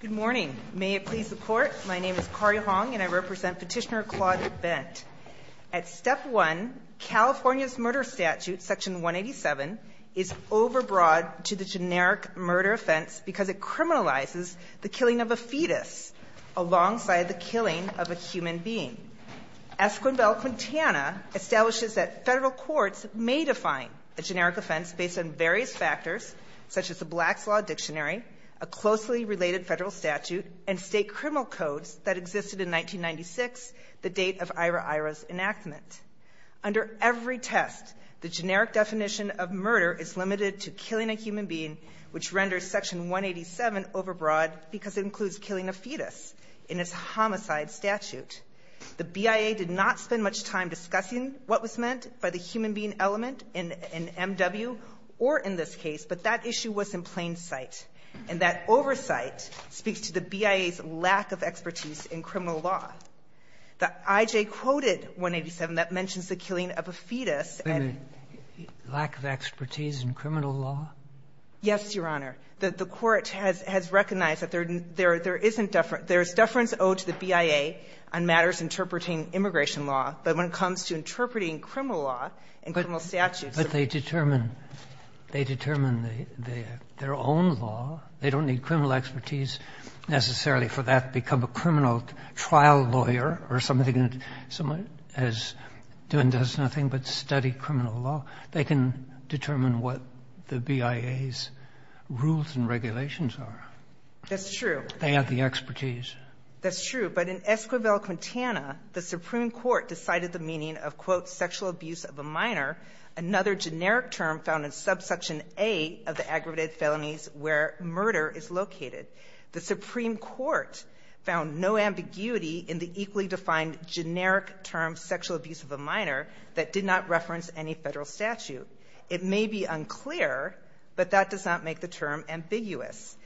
Good morning. May it please the Court, my name is Kari Hong and I represent Petitioner Claude Bent. At Step 1, California's murder statute, Section 187, is overbroad to the generic murder offense because it criminalizes the killing of a fetus alongside the killing of a human being. Esquivel-Quintana establishes that Federal courts may define a generic offense based on various factors such as the Black's Law Dictionary, a closely related Federal statute, and state criminal codes that existed in 1996, the date of Ira Ira's enactment. Under every test, the generic definition of murder is limited to killing a human being, which renders Section 187 overbroad because it includes killing a fetus in its homicide statute. The BIA did not spend much time discussing what was meant by the human being element in M.W. or in this case, but that issue was in plain sight, and that oversight speaks to the BIA's lack of expertise in criminal law. The I.J. quoted 187 that mentions the killing of a fetus and the lack of expertise in criminal law. Yes, Your Honor. The court has recognized that there is deference owed to the BIA on matters interpreting immigration law, but when it comes to interpreting criminal law and criminal statutes, it's not. But they determine, they determine their own law. They don't need criminal expertise necessarily for that, become a criminal trial lawyer or something, as doing does nothing but study criminal law. They can determine what the BIA's rules and regulations are. That's true. They have the expertise. That's true. But in Esquivel, Quintana, the Supreme Court decided the meaning of, quote, sexual abuse of a minor, another generic term found in subsection A of the aggravated felonies where murder is located. The Supreme Court found no ambiguity in the equally defined generic term, sexual abuse of a minor, that did not reference any Federal statute. It may be unclear, but that does not make the term ambiguous.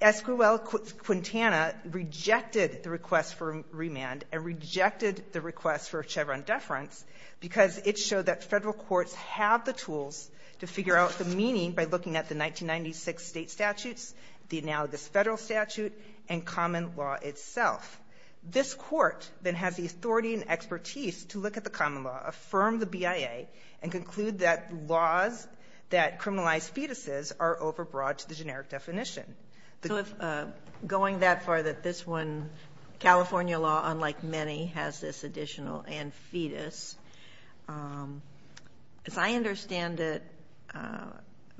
Esquivel-Quintana rejected the request for remand and rejected the request for Chevron deference because it showed that Federal courts have the tools to figure out the meaning by looking at the 1996 State statutes, the analogous Federal statute, and common law itself. This Court, then, has the authority and expertise to look at the common law, affirm the BIA, and conclude that laws that criminalize fetuses are overbroad to the generic definition. So if, going that far, that this one, California law, unlike many, has this additional and fetus, as I understand it,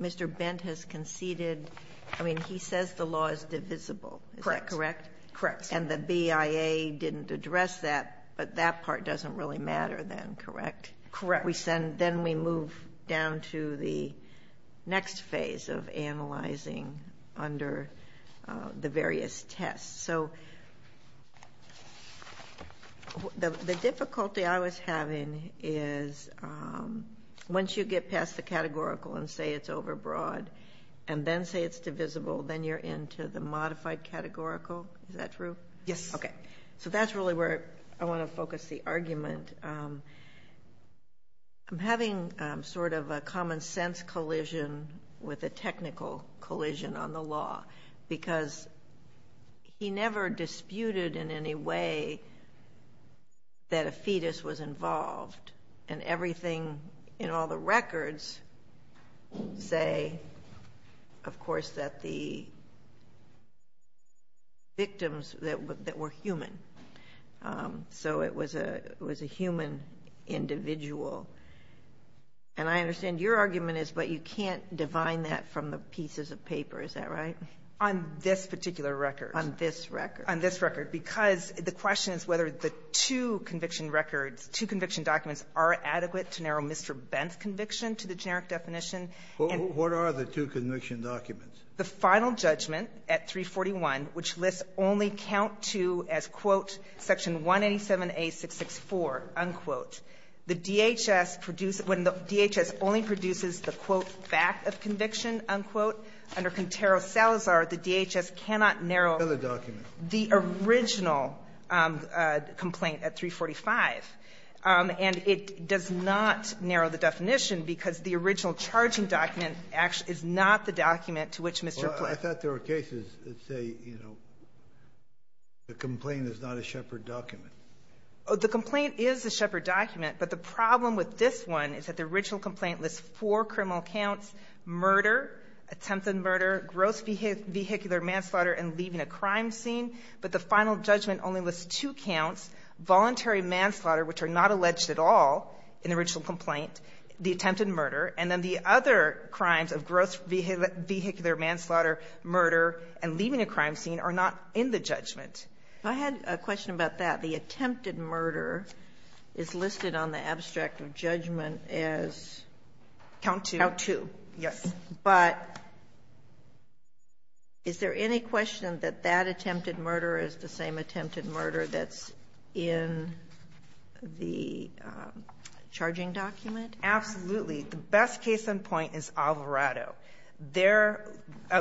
Mr. Bent has conceded, I mean, he says the law is divisible. Is that correct? Correct. And the BIA didn't address that, but that part doesn't really matter then, correct? Correct. We send then we move down to the next phase of analyzing under the various tests. So the difficulty I was having is once you get past the categorical and say it's categorical, is that true? Yes. Okay. So that's really where I want to focus the argument. I'm having sort of a common sense collision with a technical collision on the law because he never disputed in any way that a fetus was involved and everything in all the records say, of course, that the victims that were human. So it was a human individual. And I understand your argument is, but you can't define that from the pieces of paper. Is that right? On this particular record. On this record. On this record. Because the question is whether the two conviction records, two conviction documents, are adequate to narrow Mr. Bent's conviction to the generic definition. And what are the two conviction documents? The final judgment at 341, which lists only count 2 as, quote, Section 187A664, unquote. The DHS produced when the DHS only produces the, quote, fact of conviction, unquote. Under Contero-Salazar, the DHS cannot narrow the original complaint at 345. And it does not narrow the definition because the original charging document is not the document to which Mr. Platt. I thought there were cases that say the complaint is not a Shepard document. The complaint is a Shepard document. But the problem with this one is that the original complaint lists four criminal counts, murder, attempt on murder, gross vehicular manslaughter, and leaving a crime scene. But the final judgment only lists two counts, voluntary manslaughter, which are not alleged at all in the original complaint, the attempted murder, and then the other crimes of gross vehicular manslaughter, murder, and leaving a crime scene are not in the judgment. If I had a question about that, the attempted murder is listed on the abstract of judgment as count 2. Count 2, yes. But is there any question that that attempted murder is the same attempted murder that's in the charging document? Absolutely. The best case in point is Alvarado. There,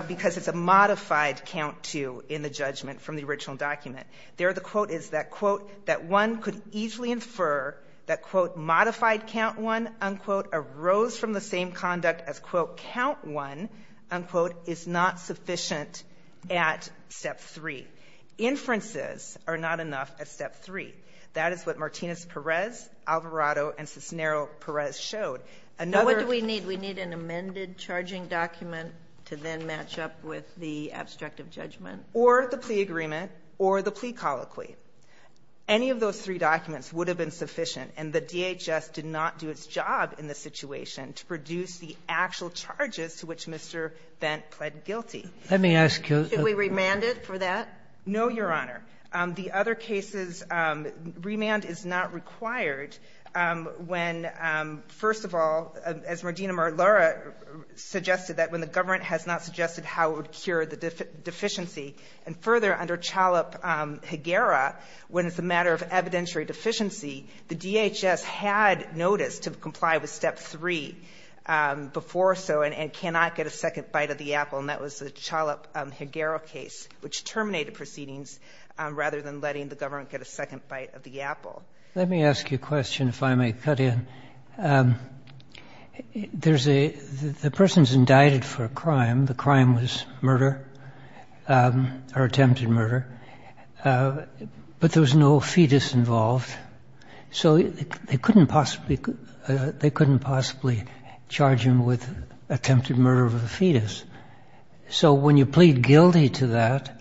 because it's a modified count 2 in the judgment from the original document, there the quote is that, quote, that one could easily infer that, quote, modified count 1, unquote, arose from the same conduct as, quote, count 1, unquote, is not That is what Martinez-Perez, Alvarado, and Cisnero-Perez showed. Another of the three documents would have been sufficient, and the DHS did not do its job in the situation to produce the actual charges to which Mr. Bent pled guilty. Let me ask you a question. Should we remand it for that? No, Your Honor. The other cases, remand is not required when, first of all, as Mardina-Marlara suggested, that when the government has not suggested how it would cure the deficiency. And further, under Chalup-Higuera, when it's a matter of evidentiary deficiency, the DHS had noticed to comply with step 3 before so and cannot get a second bite of the apple, and that was the Chalup-Higuera case, which terminated proceedings rather than letting the government get a second bite of the apple. Let me ask you a question, if I may cut in. There's a — the person's indicted for a crime. The crime was murder or attempted murder. But there was no fetus involved, so they couldn't possibly — they couldn't possibly charge him with attempted murder of a fetus. So when you plead guilty to that,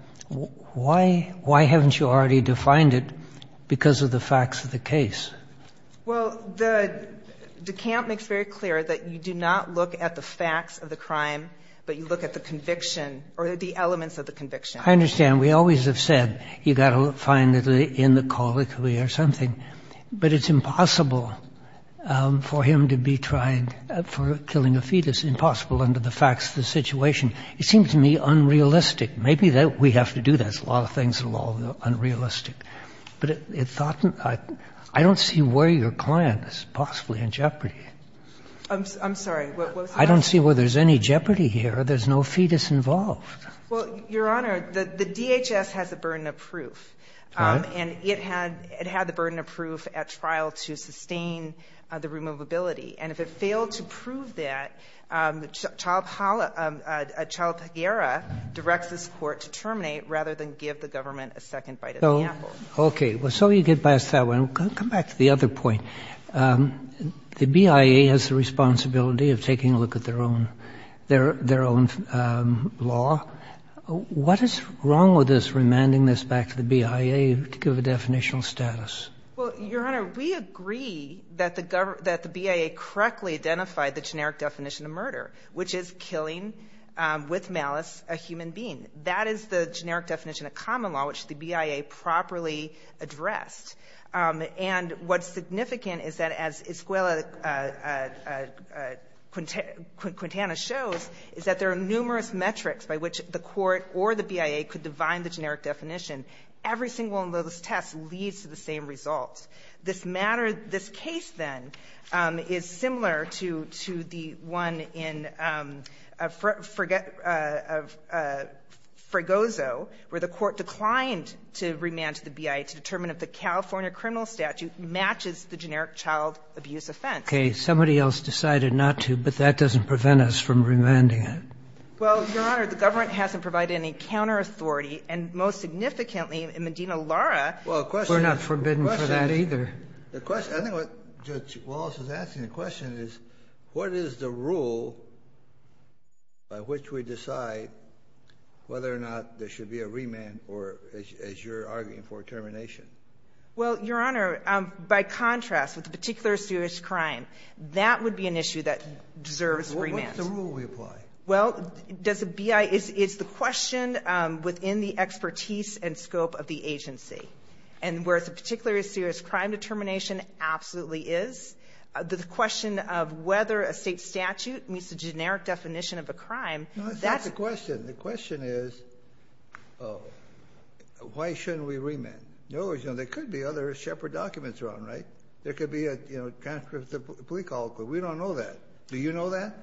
why haven't you already defined it because of the facts of the case? Well, the camp makes very clear that you do not look at the facts of the crime, but you look at the conviction or the elements of the conviction. I understand. We always have said you've got to find it in the colloquy or something. But it's impossible for him to be trying — for killing a fetus, impossible under the facts of the situation. It seems to me unrealistic. Maybe we have to do that. There's a lot of things that are unrealistic. But it thought — I don't see where your client is possibly in jeopardy. I'm sorry. I don't see where there's any jeopardy here. There's no fetus involved. Well, Your Honor, the DHS has a burden of proof. And it had the burden of proof at trial to sustain the removability. And if it failed to prove that, Chalapaguera directs this Court to terminate rather than give the government a second bite at the apple. Okay. So you get past that one. Come back to the other point. The BIA has the responsibility of taking a look at their own law. What is wrong with us remanding this back to the BIA to give a definitional status? Well, Your Honor, we agree that the BIA correctly identified the generic definition of murder, which is killing with malice a human being. That is the generic definition of common law, which the BIA properly addressed. And what's significant is that, as Escuela Quintana shows, is that there are numerous metrics by which the Court or the BIA could define the generic definition. Every single one of those tests leads to the same result. This matter of this case, then, is similar to the one in Fregoso, where the Court declined to remand to the BIA to determine if the California criminal statute matches the generic child abuse offense. Okay. Somebody else decided not to, but that doesn't prevent us from remanding it. Well, Your Honor, the government hasn't provided any counter-authority. And most significantly, Medina Lara was not forbidden for that either. The question, I think what Judge Wallace is asking, the question is, what is the rule by which we decide whether or not there should be a remand or, as you're arguing for, termination? Well, Your Honor, by contrast, with a particular serious crime, that would be an issue that deserves remand. What's the rule we apply? Well, does the BIA — it's the question within the expertise and scope of the agency. And where it's a particular serious crime, determination absolutely is. The question of whether a State statute meets the generic definition of a crime, that's — No, that's not the question. The question is, why shouldn't we remand? No, Your Honor, there could be other Shepard documents wrong, right? There could be, you know, a transcript of the plea call, but we don't know that. Do you know that?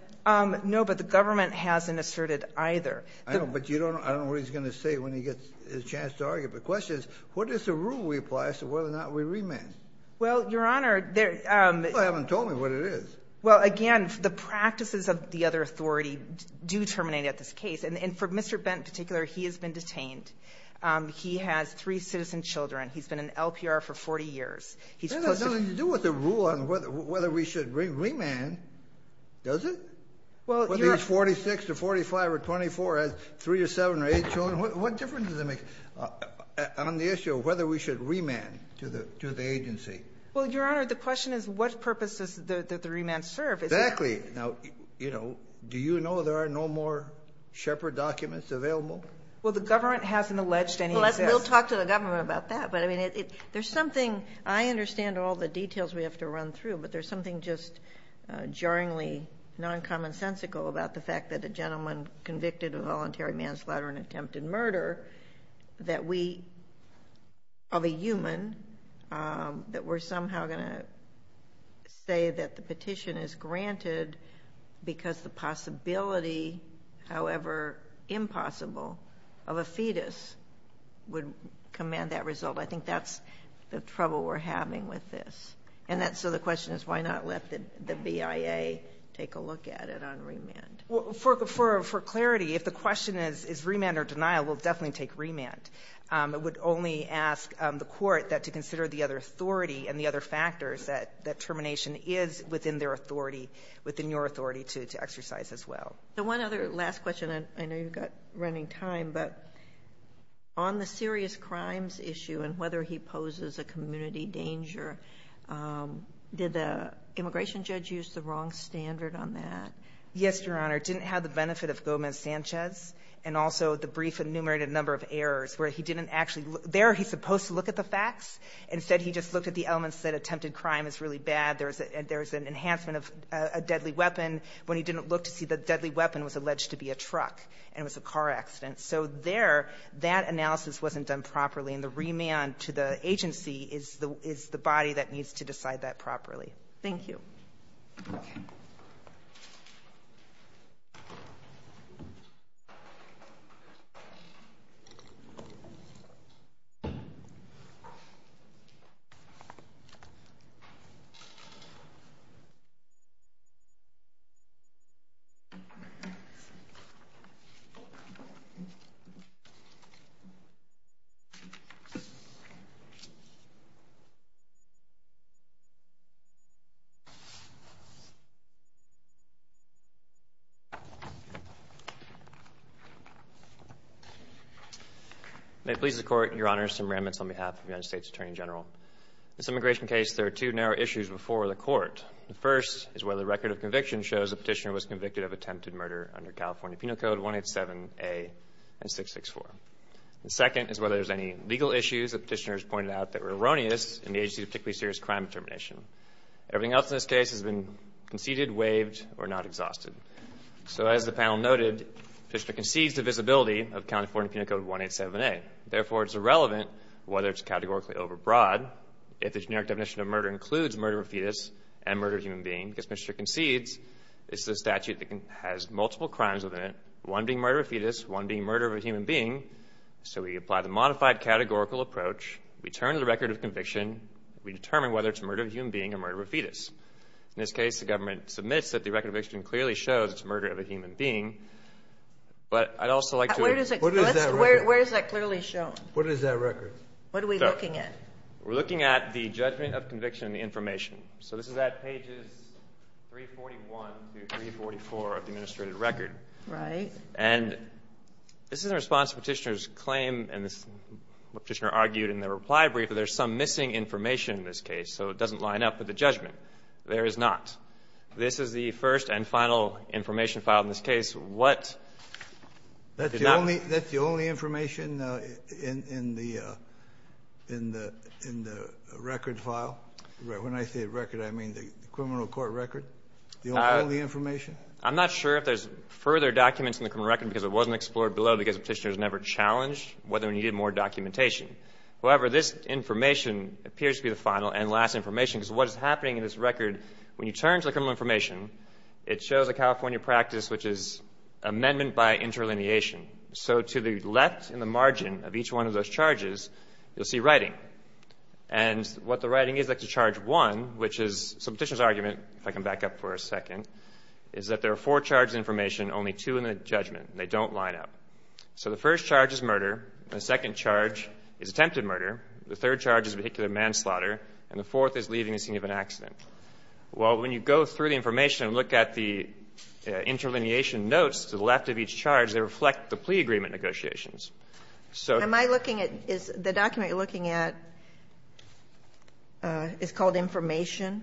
No, but the government hasn't asserted either. I know, but you don't — I don't know what he's going to say when he gets his chance to argue, but the question is, what is the rule we apply as to whether or not we remand? Well, Your Honor, there — You haven't told me what it is. Well, again, the practices of the other authority do terminate at this case. And for Mr. Bent in particular, he has been detained. He has three citizen children. He's been in LPR for 40 years. He's posted — It has nothing to do with the rule on whether we should remand, does it? Whether he's 46 or 45 or 24, has three or seven or eight children, what difference does it make on the issue of whether we should remand to the agency? Well, Your Honor, the question is, what purpose does the remand serve? Exactly. Now, you know, do you know there are no more Shepard documents available? Well, the government hasn't alleged any of this. Well, we'll talk to the government about that, but I mean, there's something — I understand all the details we have to run through, but there's something just jarringly non-commonsensical about the fact that a gentleman convicted of voluntary manslaughter and attempted murder that we — of a human — that we're somehow going to say that the petition is granted because the possibility, however impossible, of a fetus would command that result. I think that's the trouble we're having with this. And that's — so the question is, why not let the BIA take a look at it on remand? Well, for clarity, if the question is, is remand or denial, we'll definitely take remand. I would only ask the court that to consider the other authority and the other factors that termination is within their authority, within your authority to exercise as well. The one other last question, and I know you've got running time, but on the serious crimes issue and whether he poses a community danger, did the immigration judge use the wrong standard on that? Yes, Your Honor. It didn't have the benefit of Gomez-Sanchez and also the brief enumerated number of errors where he didn't actually — there, he's supposed to look at the facts. Instead, he just looked at the elements that attempted crime is really bad. There's an enhancement of a deadly weapon when he didn't look to see the deadly weapon was alleged to be a truck and it was a car accident. So there, that analysis wasn't done properly, and the remand to the agency is the body that needs to decide that properly. Thank you. May it please the Court, Your Honor, Sam Ramitz on behalf of the United States Attorney General. This immigration case, there are two narrow issues before the Court. The first is whether the record of conviction shows the petitioner was convicted of attempted murder under California Penal Code 187A and 664. The second is whether there's any legal issues the petitioners pointed out that were erroneous in the agency's particularly serious crime termination. Everything else in this case has been conceded, waived, or not exhausted. So as the panel noted, the petitioner concedes the visibility of California Penal Code 187A. Therefore, it's irrelevant whether it's categorically overbroad if the generic definition of murder includes murder of a fetus and murder of a human being, because the petitioner concedes it's a statute that has multiple crimes within it, one being murder of a fetus, one being murder of a human being. So we apply the modified categorical approach, we turn to the record of conviction, we determine whether it's murder of a human being or murder of a fetus. In this case, the government submits that the record of conviction clearly shows it's murder of a human being. But I'd also like to – Where does it – What is that record? Where is that clearly shown? What is that record? What are we looking at? We're looking at the judgment of conviction and the information. So this is at pages 341 through 344 of the administrative record. Right. And this is in response to the petitioner's claim, and the petitioner argued in the reply brief that there's some missing information in this case, so it doesn't line up with the judgment. There is not. This is the first and final information file in this case. What did not – That's the only information in the record file? When I say record, I mean the criminal court record? The only information? I'm not sure if there's further documents in the criminal record because it wasn't explored below because the petitioner has never challenged whether we needed more documentation. However, this information appears to be the final and last information because what is happening in this record, when you turn to the criminal information, it shows a California practice which is amendment by interlineation. So to the left in the margin of each one of those charges, you'll see writing. And what the writing is, like to charge one, which is – so the petitioner's argument, if I can back up for a second, is that there are four charges of information, only two in the judgment. They don't line up. So the first charge is murder, the second charge is attempted murder, the third charge is vehicular manslaughter, and the fourth is leaving the scene of an accident. Well, when you go through the information and look at the interlineation notes to the left of each charge, they reflect the plea agreement negotiations. So – Am I looking at – is the document you're looking at is called information?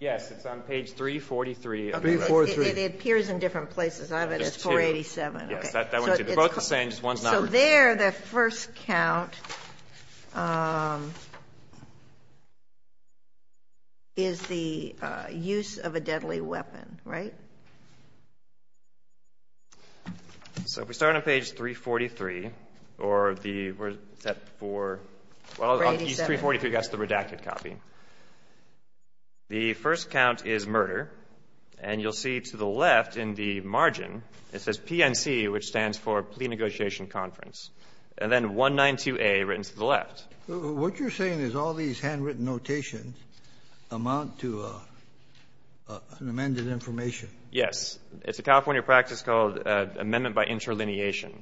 Yes. It's on page 343. Okay. It appears in different places. I have it as 487. Yes, that one, too. They're both the same, just one's not written. So there, the first count is the use of a deadly weapon, right? So if we start on page 343, or the – where's that for – well, 343, that's the redacted copy. The first count is murder, and you'll see to the left in the margin, it says PNC which stands for plea negotiation conference, and then 192A written to the left. What you're saying is all these handwritten notations amount to an amended information? Yes. It's a California practice called amendment by interlineation.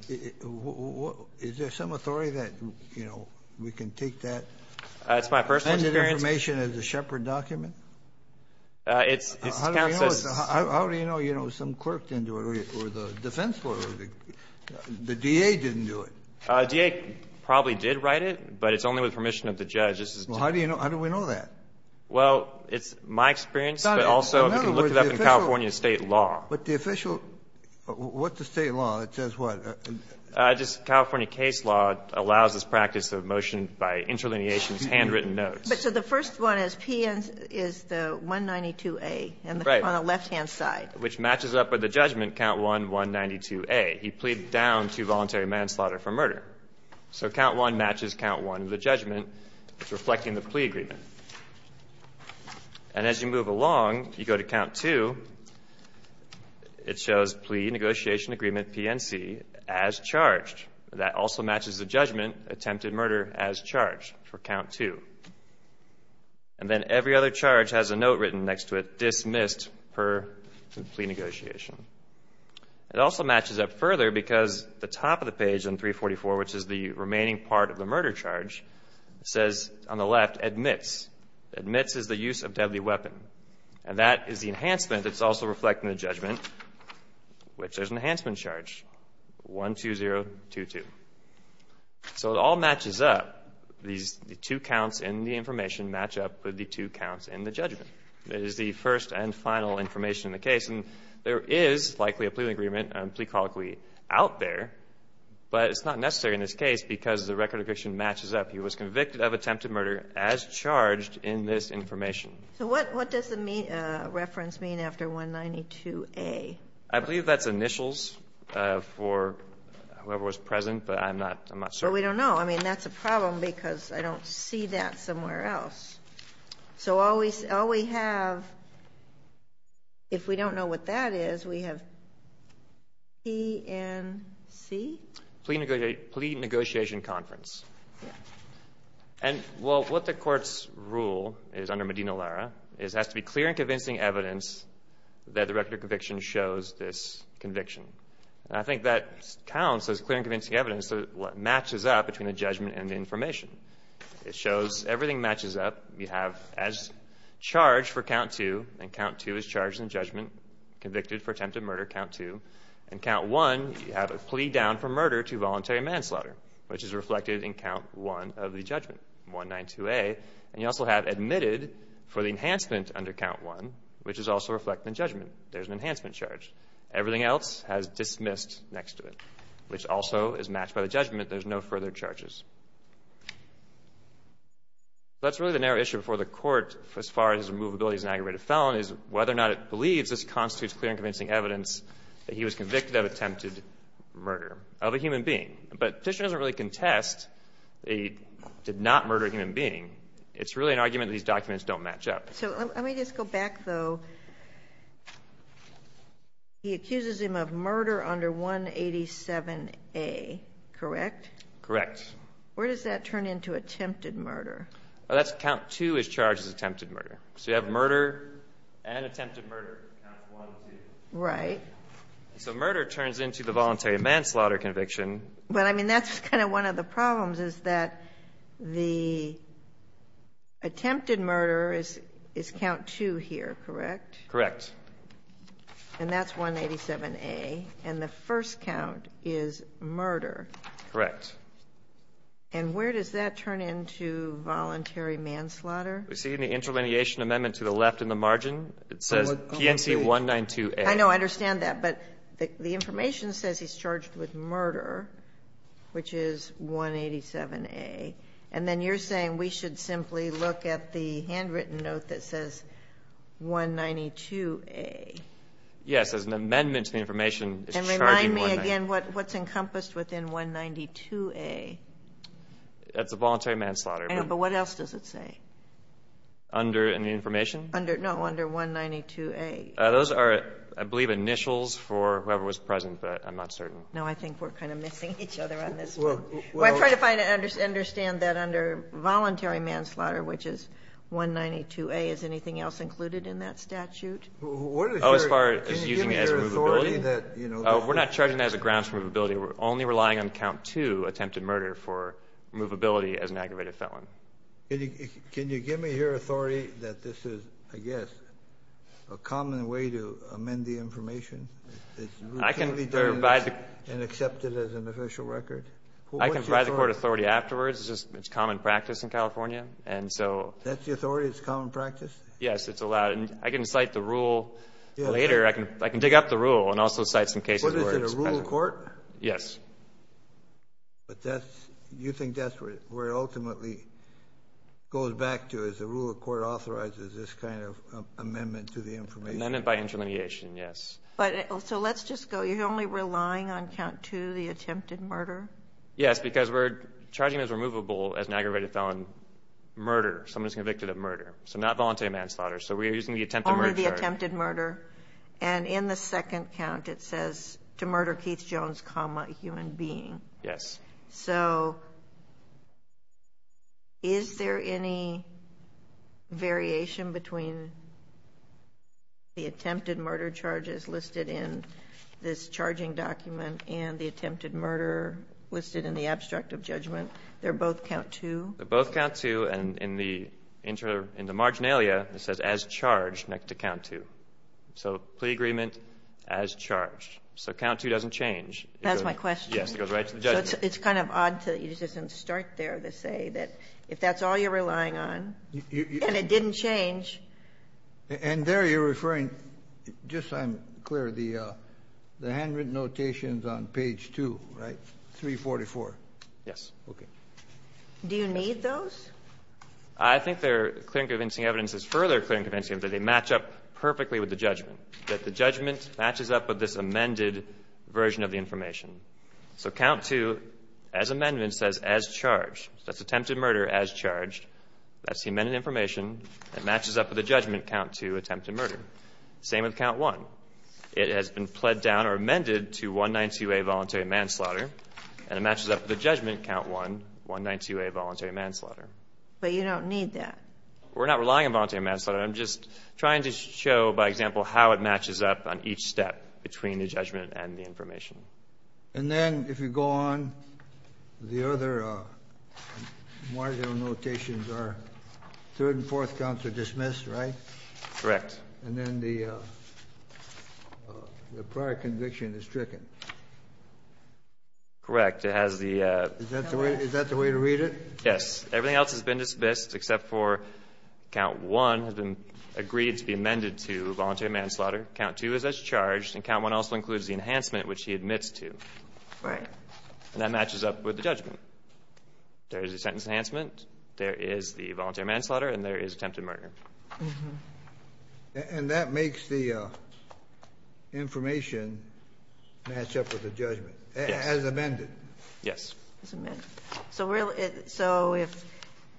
Is there some authority that, you know, we can take that amended information as a shepherd document? It's – this count says – How do you know, you know, some clerk didn't do it or the defense lawyer or the DA didn't do it? The DA probably did write it, but it's only with permission of the judge. This is – Well, how do you know – how do we know that? Well, it's my experience, but also if you look it up in California State law. But the official – what's the State law that says what? Just California case law allows this practice of motion by interlineation is handwritten notes. But so the first one is PNC is the 192A on the left-hand side. Right, which matches up with the judgment, count 1, 192A. He pleaded down to voluntary manslaughter for murder. So count 1 matches count 1 of the judgment. It's reflecting the plea agreement. And as you move along, you go to count 2. It shows plea negotiation agreement PNC as charged. That also matches the judgment attempted murder as charged for count 2. And then every other charge has a note written next to it, dismissed per plea negotiation. It also matches up further because the top of the page on 344, which is the remaining part of the murder charge, says on the left, admits. Admits is the use of deadly weapon. And that is the enhancement that's also reflecting the judgment, which there's an enhancement charge, 12022. So it all matches up. The two counts in the information match up with the two counts in the judgment. It is the first and final information in the case. And there is likely a plea agreement and plea colloquy out there. But it's not necessary in this case because the record of conviction matches up. He was convicted of attempted murder as charged in this information. So what does the reference mean after 192A? I believe that's initials for whoever was present, but I'm not sure. Well, we don't know. I mean, that's a problem because I don't see that somewhere else. So all we have, if we don't know what that is, we have PNC? Plea negotiation conference. And what the court's rule is under Medina-Lara is it has to be clear and convincing evidence that the record of conviction shows this conviction. And I think that counts as clear and convincing evidence. Matches up between the judgment and the information. It shows everything matches up. You have as charged for count two, and count two is charged in judgment, convicted for attempted murder, count two. And count one, you have a plea down for murder to voluntary manslaughter, which is reflected in count one of the judgment, 192A. And you also have admitted for the enhancement under count one, which is also reflected in judgment. There's an enhancement charge. Everything else has dismissed next to it, which also is matched by the judgment. There's no further charges. That's really the narrow issue before the court as far as his removability as an aggravated felon is whether or not it believes this constitutes clear and convincing evidence that he was convicted of attempted murder of a human being. But the petition doesn't really contest that he did not murder a human being. It's really an argument that these documents don't match up. So let me just go back, though. He accuses him of murder under 187A, correct? Correct. Where does that turn into attempted murder? That's count two is charged as attempted murder. So you have murder and attempted murder, count one and two. Right. So murder turns into the voluntary manslaughter conviction. But, I mean, that's kind of one of the problems is that the attempted murder is count two here, correct? Correct. And that's 187A. And the first count is murder. Correct. And where does that turn into voluntary manslaughter? We see in the intermediation amendment to the left in the margin, it says PNC 192A. I know. I understand that. But the information says he's charged with murder, which is 187A. And then you're saying we should simply look at the handwritten note that says 192A. Yes. As an amendment to the information, it's charging 192A. And remind me again, what's encompassed within 192A? That's a voluntary manslaughter. I know. But what else does it say? Under any information? No, under 192A. Those are, I believe, initials for whoever was present, but I'm not certain. No, I think we're kind of missing each other on this one. Well, I'm trying to understand that under voluntary manslaughter, which is 192A, is anything else included in that statute? Oh, as far as using it as a movability? We're not charging that as a grounds for movability. We're only relying on count two, attempted murder, for movability as an aggravated felon. Can you give me here authority that this is, I guess, a common way to amend the information? It's routinely done and accepted as an official record? I can provide the court authority afterwards. It's just common practice in California. And so... That's the authority? It's common practice? Yes, it's allowed. And I can cite the rule later. I can dig up the rule and also cite some cases where it's present. But is it a rule in court? Yes. But you think that's where it ultimately goes back to, is the rule of court authorizes this kind of amendment to the information? Amendment by interlineation, yes. So let's just go, you're only relying on count two, the attempted murder? Yes, because we're charging it as removable as an aggravated felon murder, someone who's convicted of murder. So not voluntary manslaughter. So we're using the attempted murder charge. Only the attempted murder. And in the second count, it says, to murder Keith Jones, human being. Yes. So is there any variation between the attempted murder charges listed in this charging document and the attempted murder listed in the abstract of judgment? They're both count two? They're both count two. And in the marginalia, it says, as charged, next to count two. So plea agreement as charged. So count two doesn't change. That's my question. Yes. It goes right to the judge. It's kind of odd to use this and start there to say that if that's all you're relying on and it didn't change. And there you're referring, just so I'm clear, the handwritten notations on page two, right, 344. Yes. Okay. Do you need those? I think they're clear and convincing evidence is further clear and convincing that they match up perfectly with the judgment, that the judgment matches up with this amended version of the information. So count two, as amendment, says, as charged. That's attempted murder as charged. That's the amended information. It matches up with the judgment count two, attempted murder. Same with count one. It has been pled down or amended to 192A, voluntary manslaughter. And it matches up with the judgment count one, 192A, voluntary manslaughter. But you don't need that. We're not relying on voluntary manslaughter. I'm just trying to show, by example, how it matches up on each step between the judgment and the information. And then, if you go on, the other marginal notations are third and fourth counts are dismissed, right? Correct. And then the prior conviction is stricken. Correct. It has the, uh, Is that the way to read it? Yes. Everything else has been dismissed except for count one has been agreed to be amended to voluntary manslaughter. Count two is as charged. And count one also includes the enhancement, which he admits to. Right. And that matches up with the judgment. There is a sentence enhancement. There is the voluntary manslaughter. And there is attempted murder. And that makes the, uh, information match up with the judgment as amended. Yes. As amended. So, if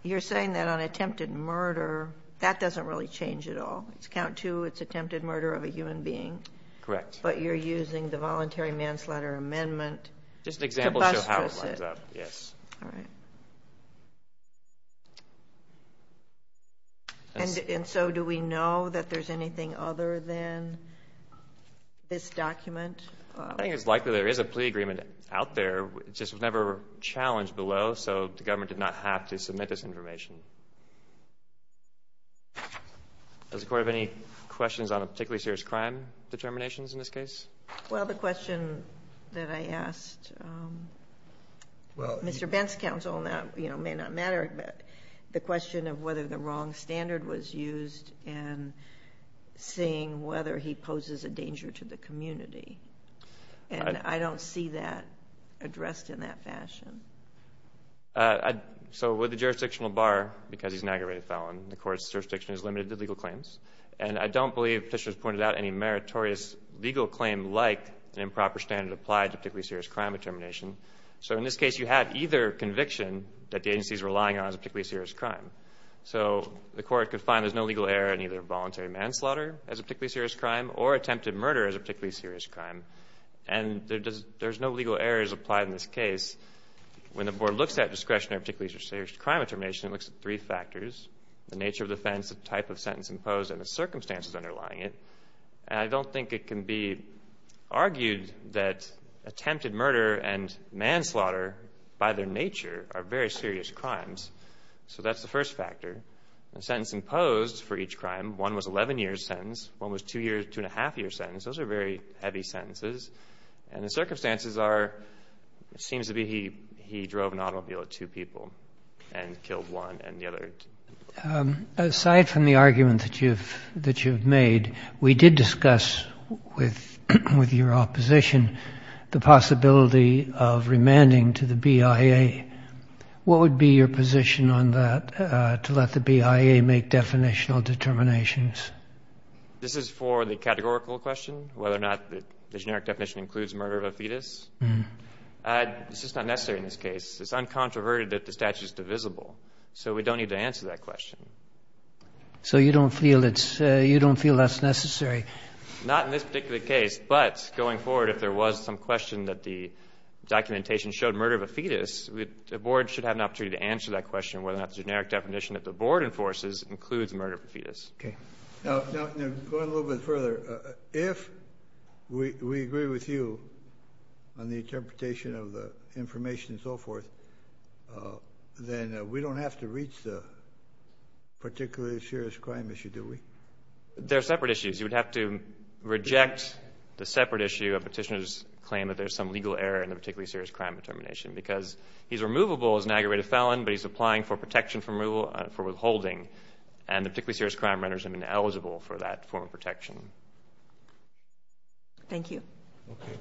you're saying that on attempted murder, that doesn't really change at all. It's count two. It's attempted murder of a human being. Correct. But you're using the voluntary manslaughter amendment to bustress it. Just an example to show how it lines up. Yes. All right. And so, do we know that there's anything other than this document? I think it's likely there is a plea agreement out there. It just was never challenged below. So, the government did not have to submit this information. Does the court have any questions on a particularly serious crime determinations in this case? Well, the question that I asked, um, Mr. Bent's counsel, and that may not matter, but the question of whether the wrong And I don't see that addressed in that fashion. So, with the jurisdictional bar, because he's an aggravated felon, the court's jurisdiction is limited to legal claims. And I don't believe Petitioner's pointed out any meritorious legal claim like an improper standard applied to particularly serious crime determination. So, in this case, you had either conviction that the agency's relying on as a particularly serious crime. So, the court could find there's no legal error in either voluntary manslaughter as a particularly serious crime or attempted murder as a particularly serious crime. And there's no legal errors applied in this case. When the board looks at discretionary particularly serious crime determination, it looks at three factors. The nature of the offense, the type of sentence imposed, and the circumstances underlying it. And I don't think it can be argued that attempted murder and manslaughter, by their nature, are very serious crimes. So, that's the first factor. The sentence imposed for each crime, one was 11 years sentence, one was two years, two and a half years sentence. Those are very heavy sentences. And the circumstances are, it seems to be he drove an automobile with two people and killed one and the other. Aside from the argument that you've made, we did discuss with your opposition the possibility of remanding to the BIA. What would be your position on that, to let the BIA make definitional determinations? This is for the categorical question, whether or not the generic definition includes murder of a fetus. It's just not necessary in this case. It's uncontroverted that the statute is divisible. So, we don't need to answer that question. So, you don't feel that's necessary? Not in this particular case, but going forward, if there was some question that the documentation showed murder of a fetus, the board should have an opportunity to answer that question, whether or not the generic definition that the board enforces includes murder of a fetus. Okay. Now, going a little bit further, if we agree with you on the interpretation of the information and so forth, then we don't have to reach the particularly serious crime issue, do we? They're separate issues. You would have to reject the separate issue, a petitioner's claim that there's some legal error in the particularly serious crime determination, because he's removable as an aggravated felon, but he's applying for protection for withholding, and the particularly serious crime renders him ineligible for that form of protection. Thank you. Okay.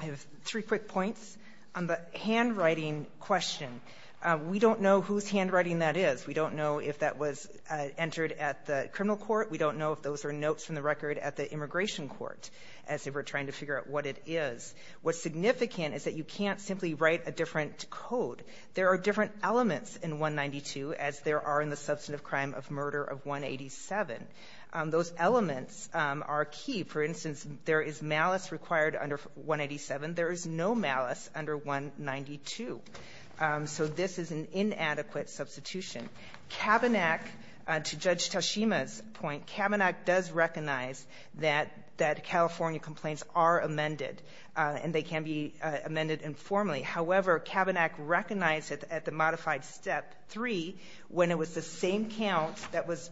I have three quick points on the handwriting question. We don't know whose handwriting that is. We don't know if that was entered at the criminal court. We don't know if those are notes from the record at the immigration court, as if we're trying to figure out what it is. What's significant is that you can't simply write a different code. There are different elements in 192, as there are in the substantive crime of murder of 187. Those elements are key. For instance, there is malice required under 187. There is no malice under 192. So this is an inadequate substitution. Kavanaugh, to Judge Toshima's point, Kavanaugh does recognize that California complaints are amended, and they can be amended informally. However, Kavanaugh recognized at the modified Step 3, when it was the same count that was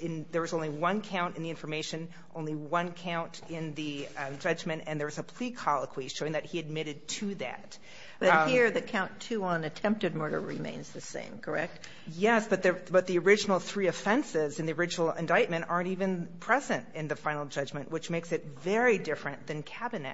in there was only one count in the information, only one count in the judgment. And there was a plea colloquy showing that he admitted to that. But here, the count 2 on attempted murder remains the same, correct? Yes. But the original three offenses in the original indictment aren't even present in the final judgment, which makes it very different than Kavanaugh.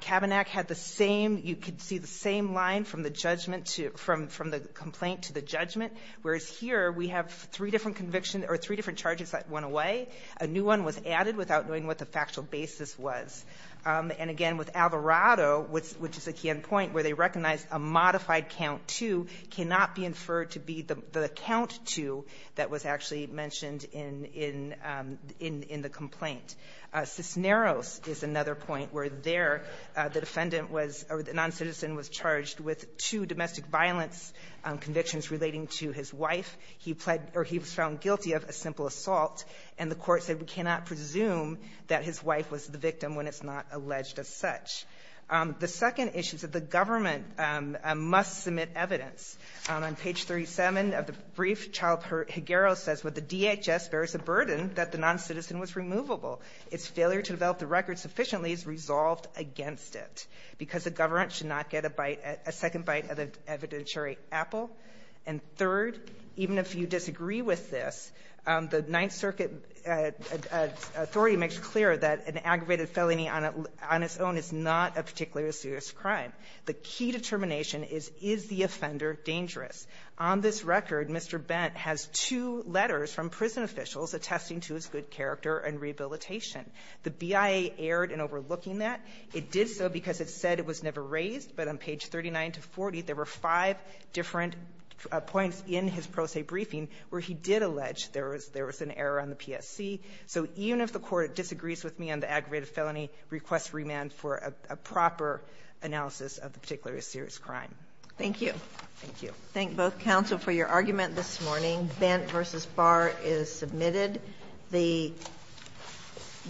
Kavanaugh had the same you could see the same line from the judgment to from the complaint to the judgment. Whereas here, we have three different convictions or three different charges that went away. A new one was added without knowing what the factual basis was. And again, with Alvarado, which is a key end point where they recognize a modified count 2 cannot be inferred to be the count 2 that was actually mentioned in the complaint. Cisneros is another point where there the defendant was or the noncitizen was charged with two domestic violence convictions relating to his wife. He pled or he was found guilty of a simple assault. And the court said we cannot presume that his wife was the victim when it's not alleged as such. The second issue is that the government must submit evidence. On page 37 of the brief, Child-Higuero says, with the DHS, there is a burden that the noncitizen was removable. Its failure to develop the record sufficiently is resolved against it. Because the government should not get a bite, a second bite of the evidentiary apple. And third, even if you disagree with this, the Ninth Circuit authority makes clear that an aggravated felony on its own is not a particularly serious crime. The key determination is, is the offender dangerous? On this record, Mr. Bent has two letters from prison officials attesting to his good character and rehabilitation. The BIA erred in overlooking that. It did so because it said it was never raised, but on page 39-40, there were five different points in his pro se briefing where he did allege there was an error on the PSC. So even if the court disagrees with me on the aggravated felony, request remand for a proper analysis of the particularly serious crime. Thank you. Thank you. Thank both counsel for your argument this morning. Bent v. Barr is submitted. The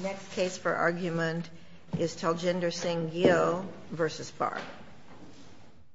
next case for argument is Taljinder Singh-Gio v. Barr.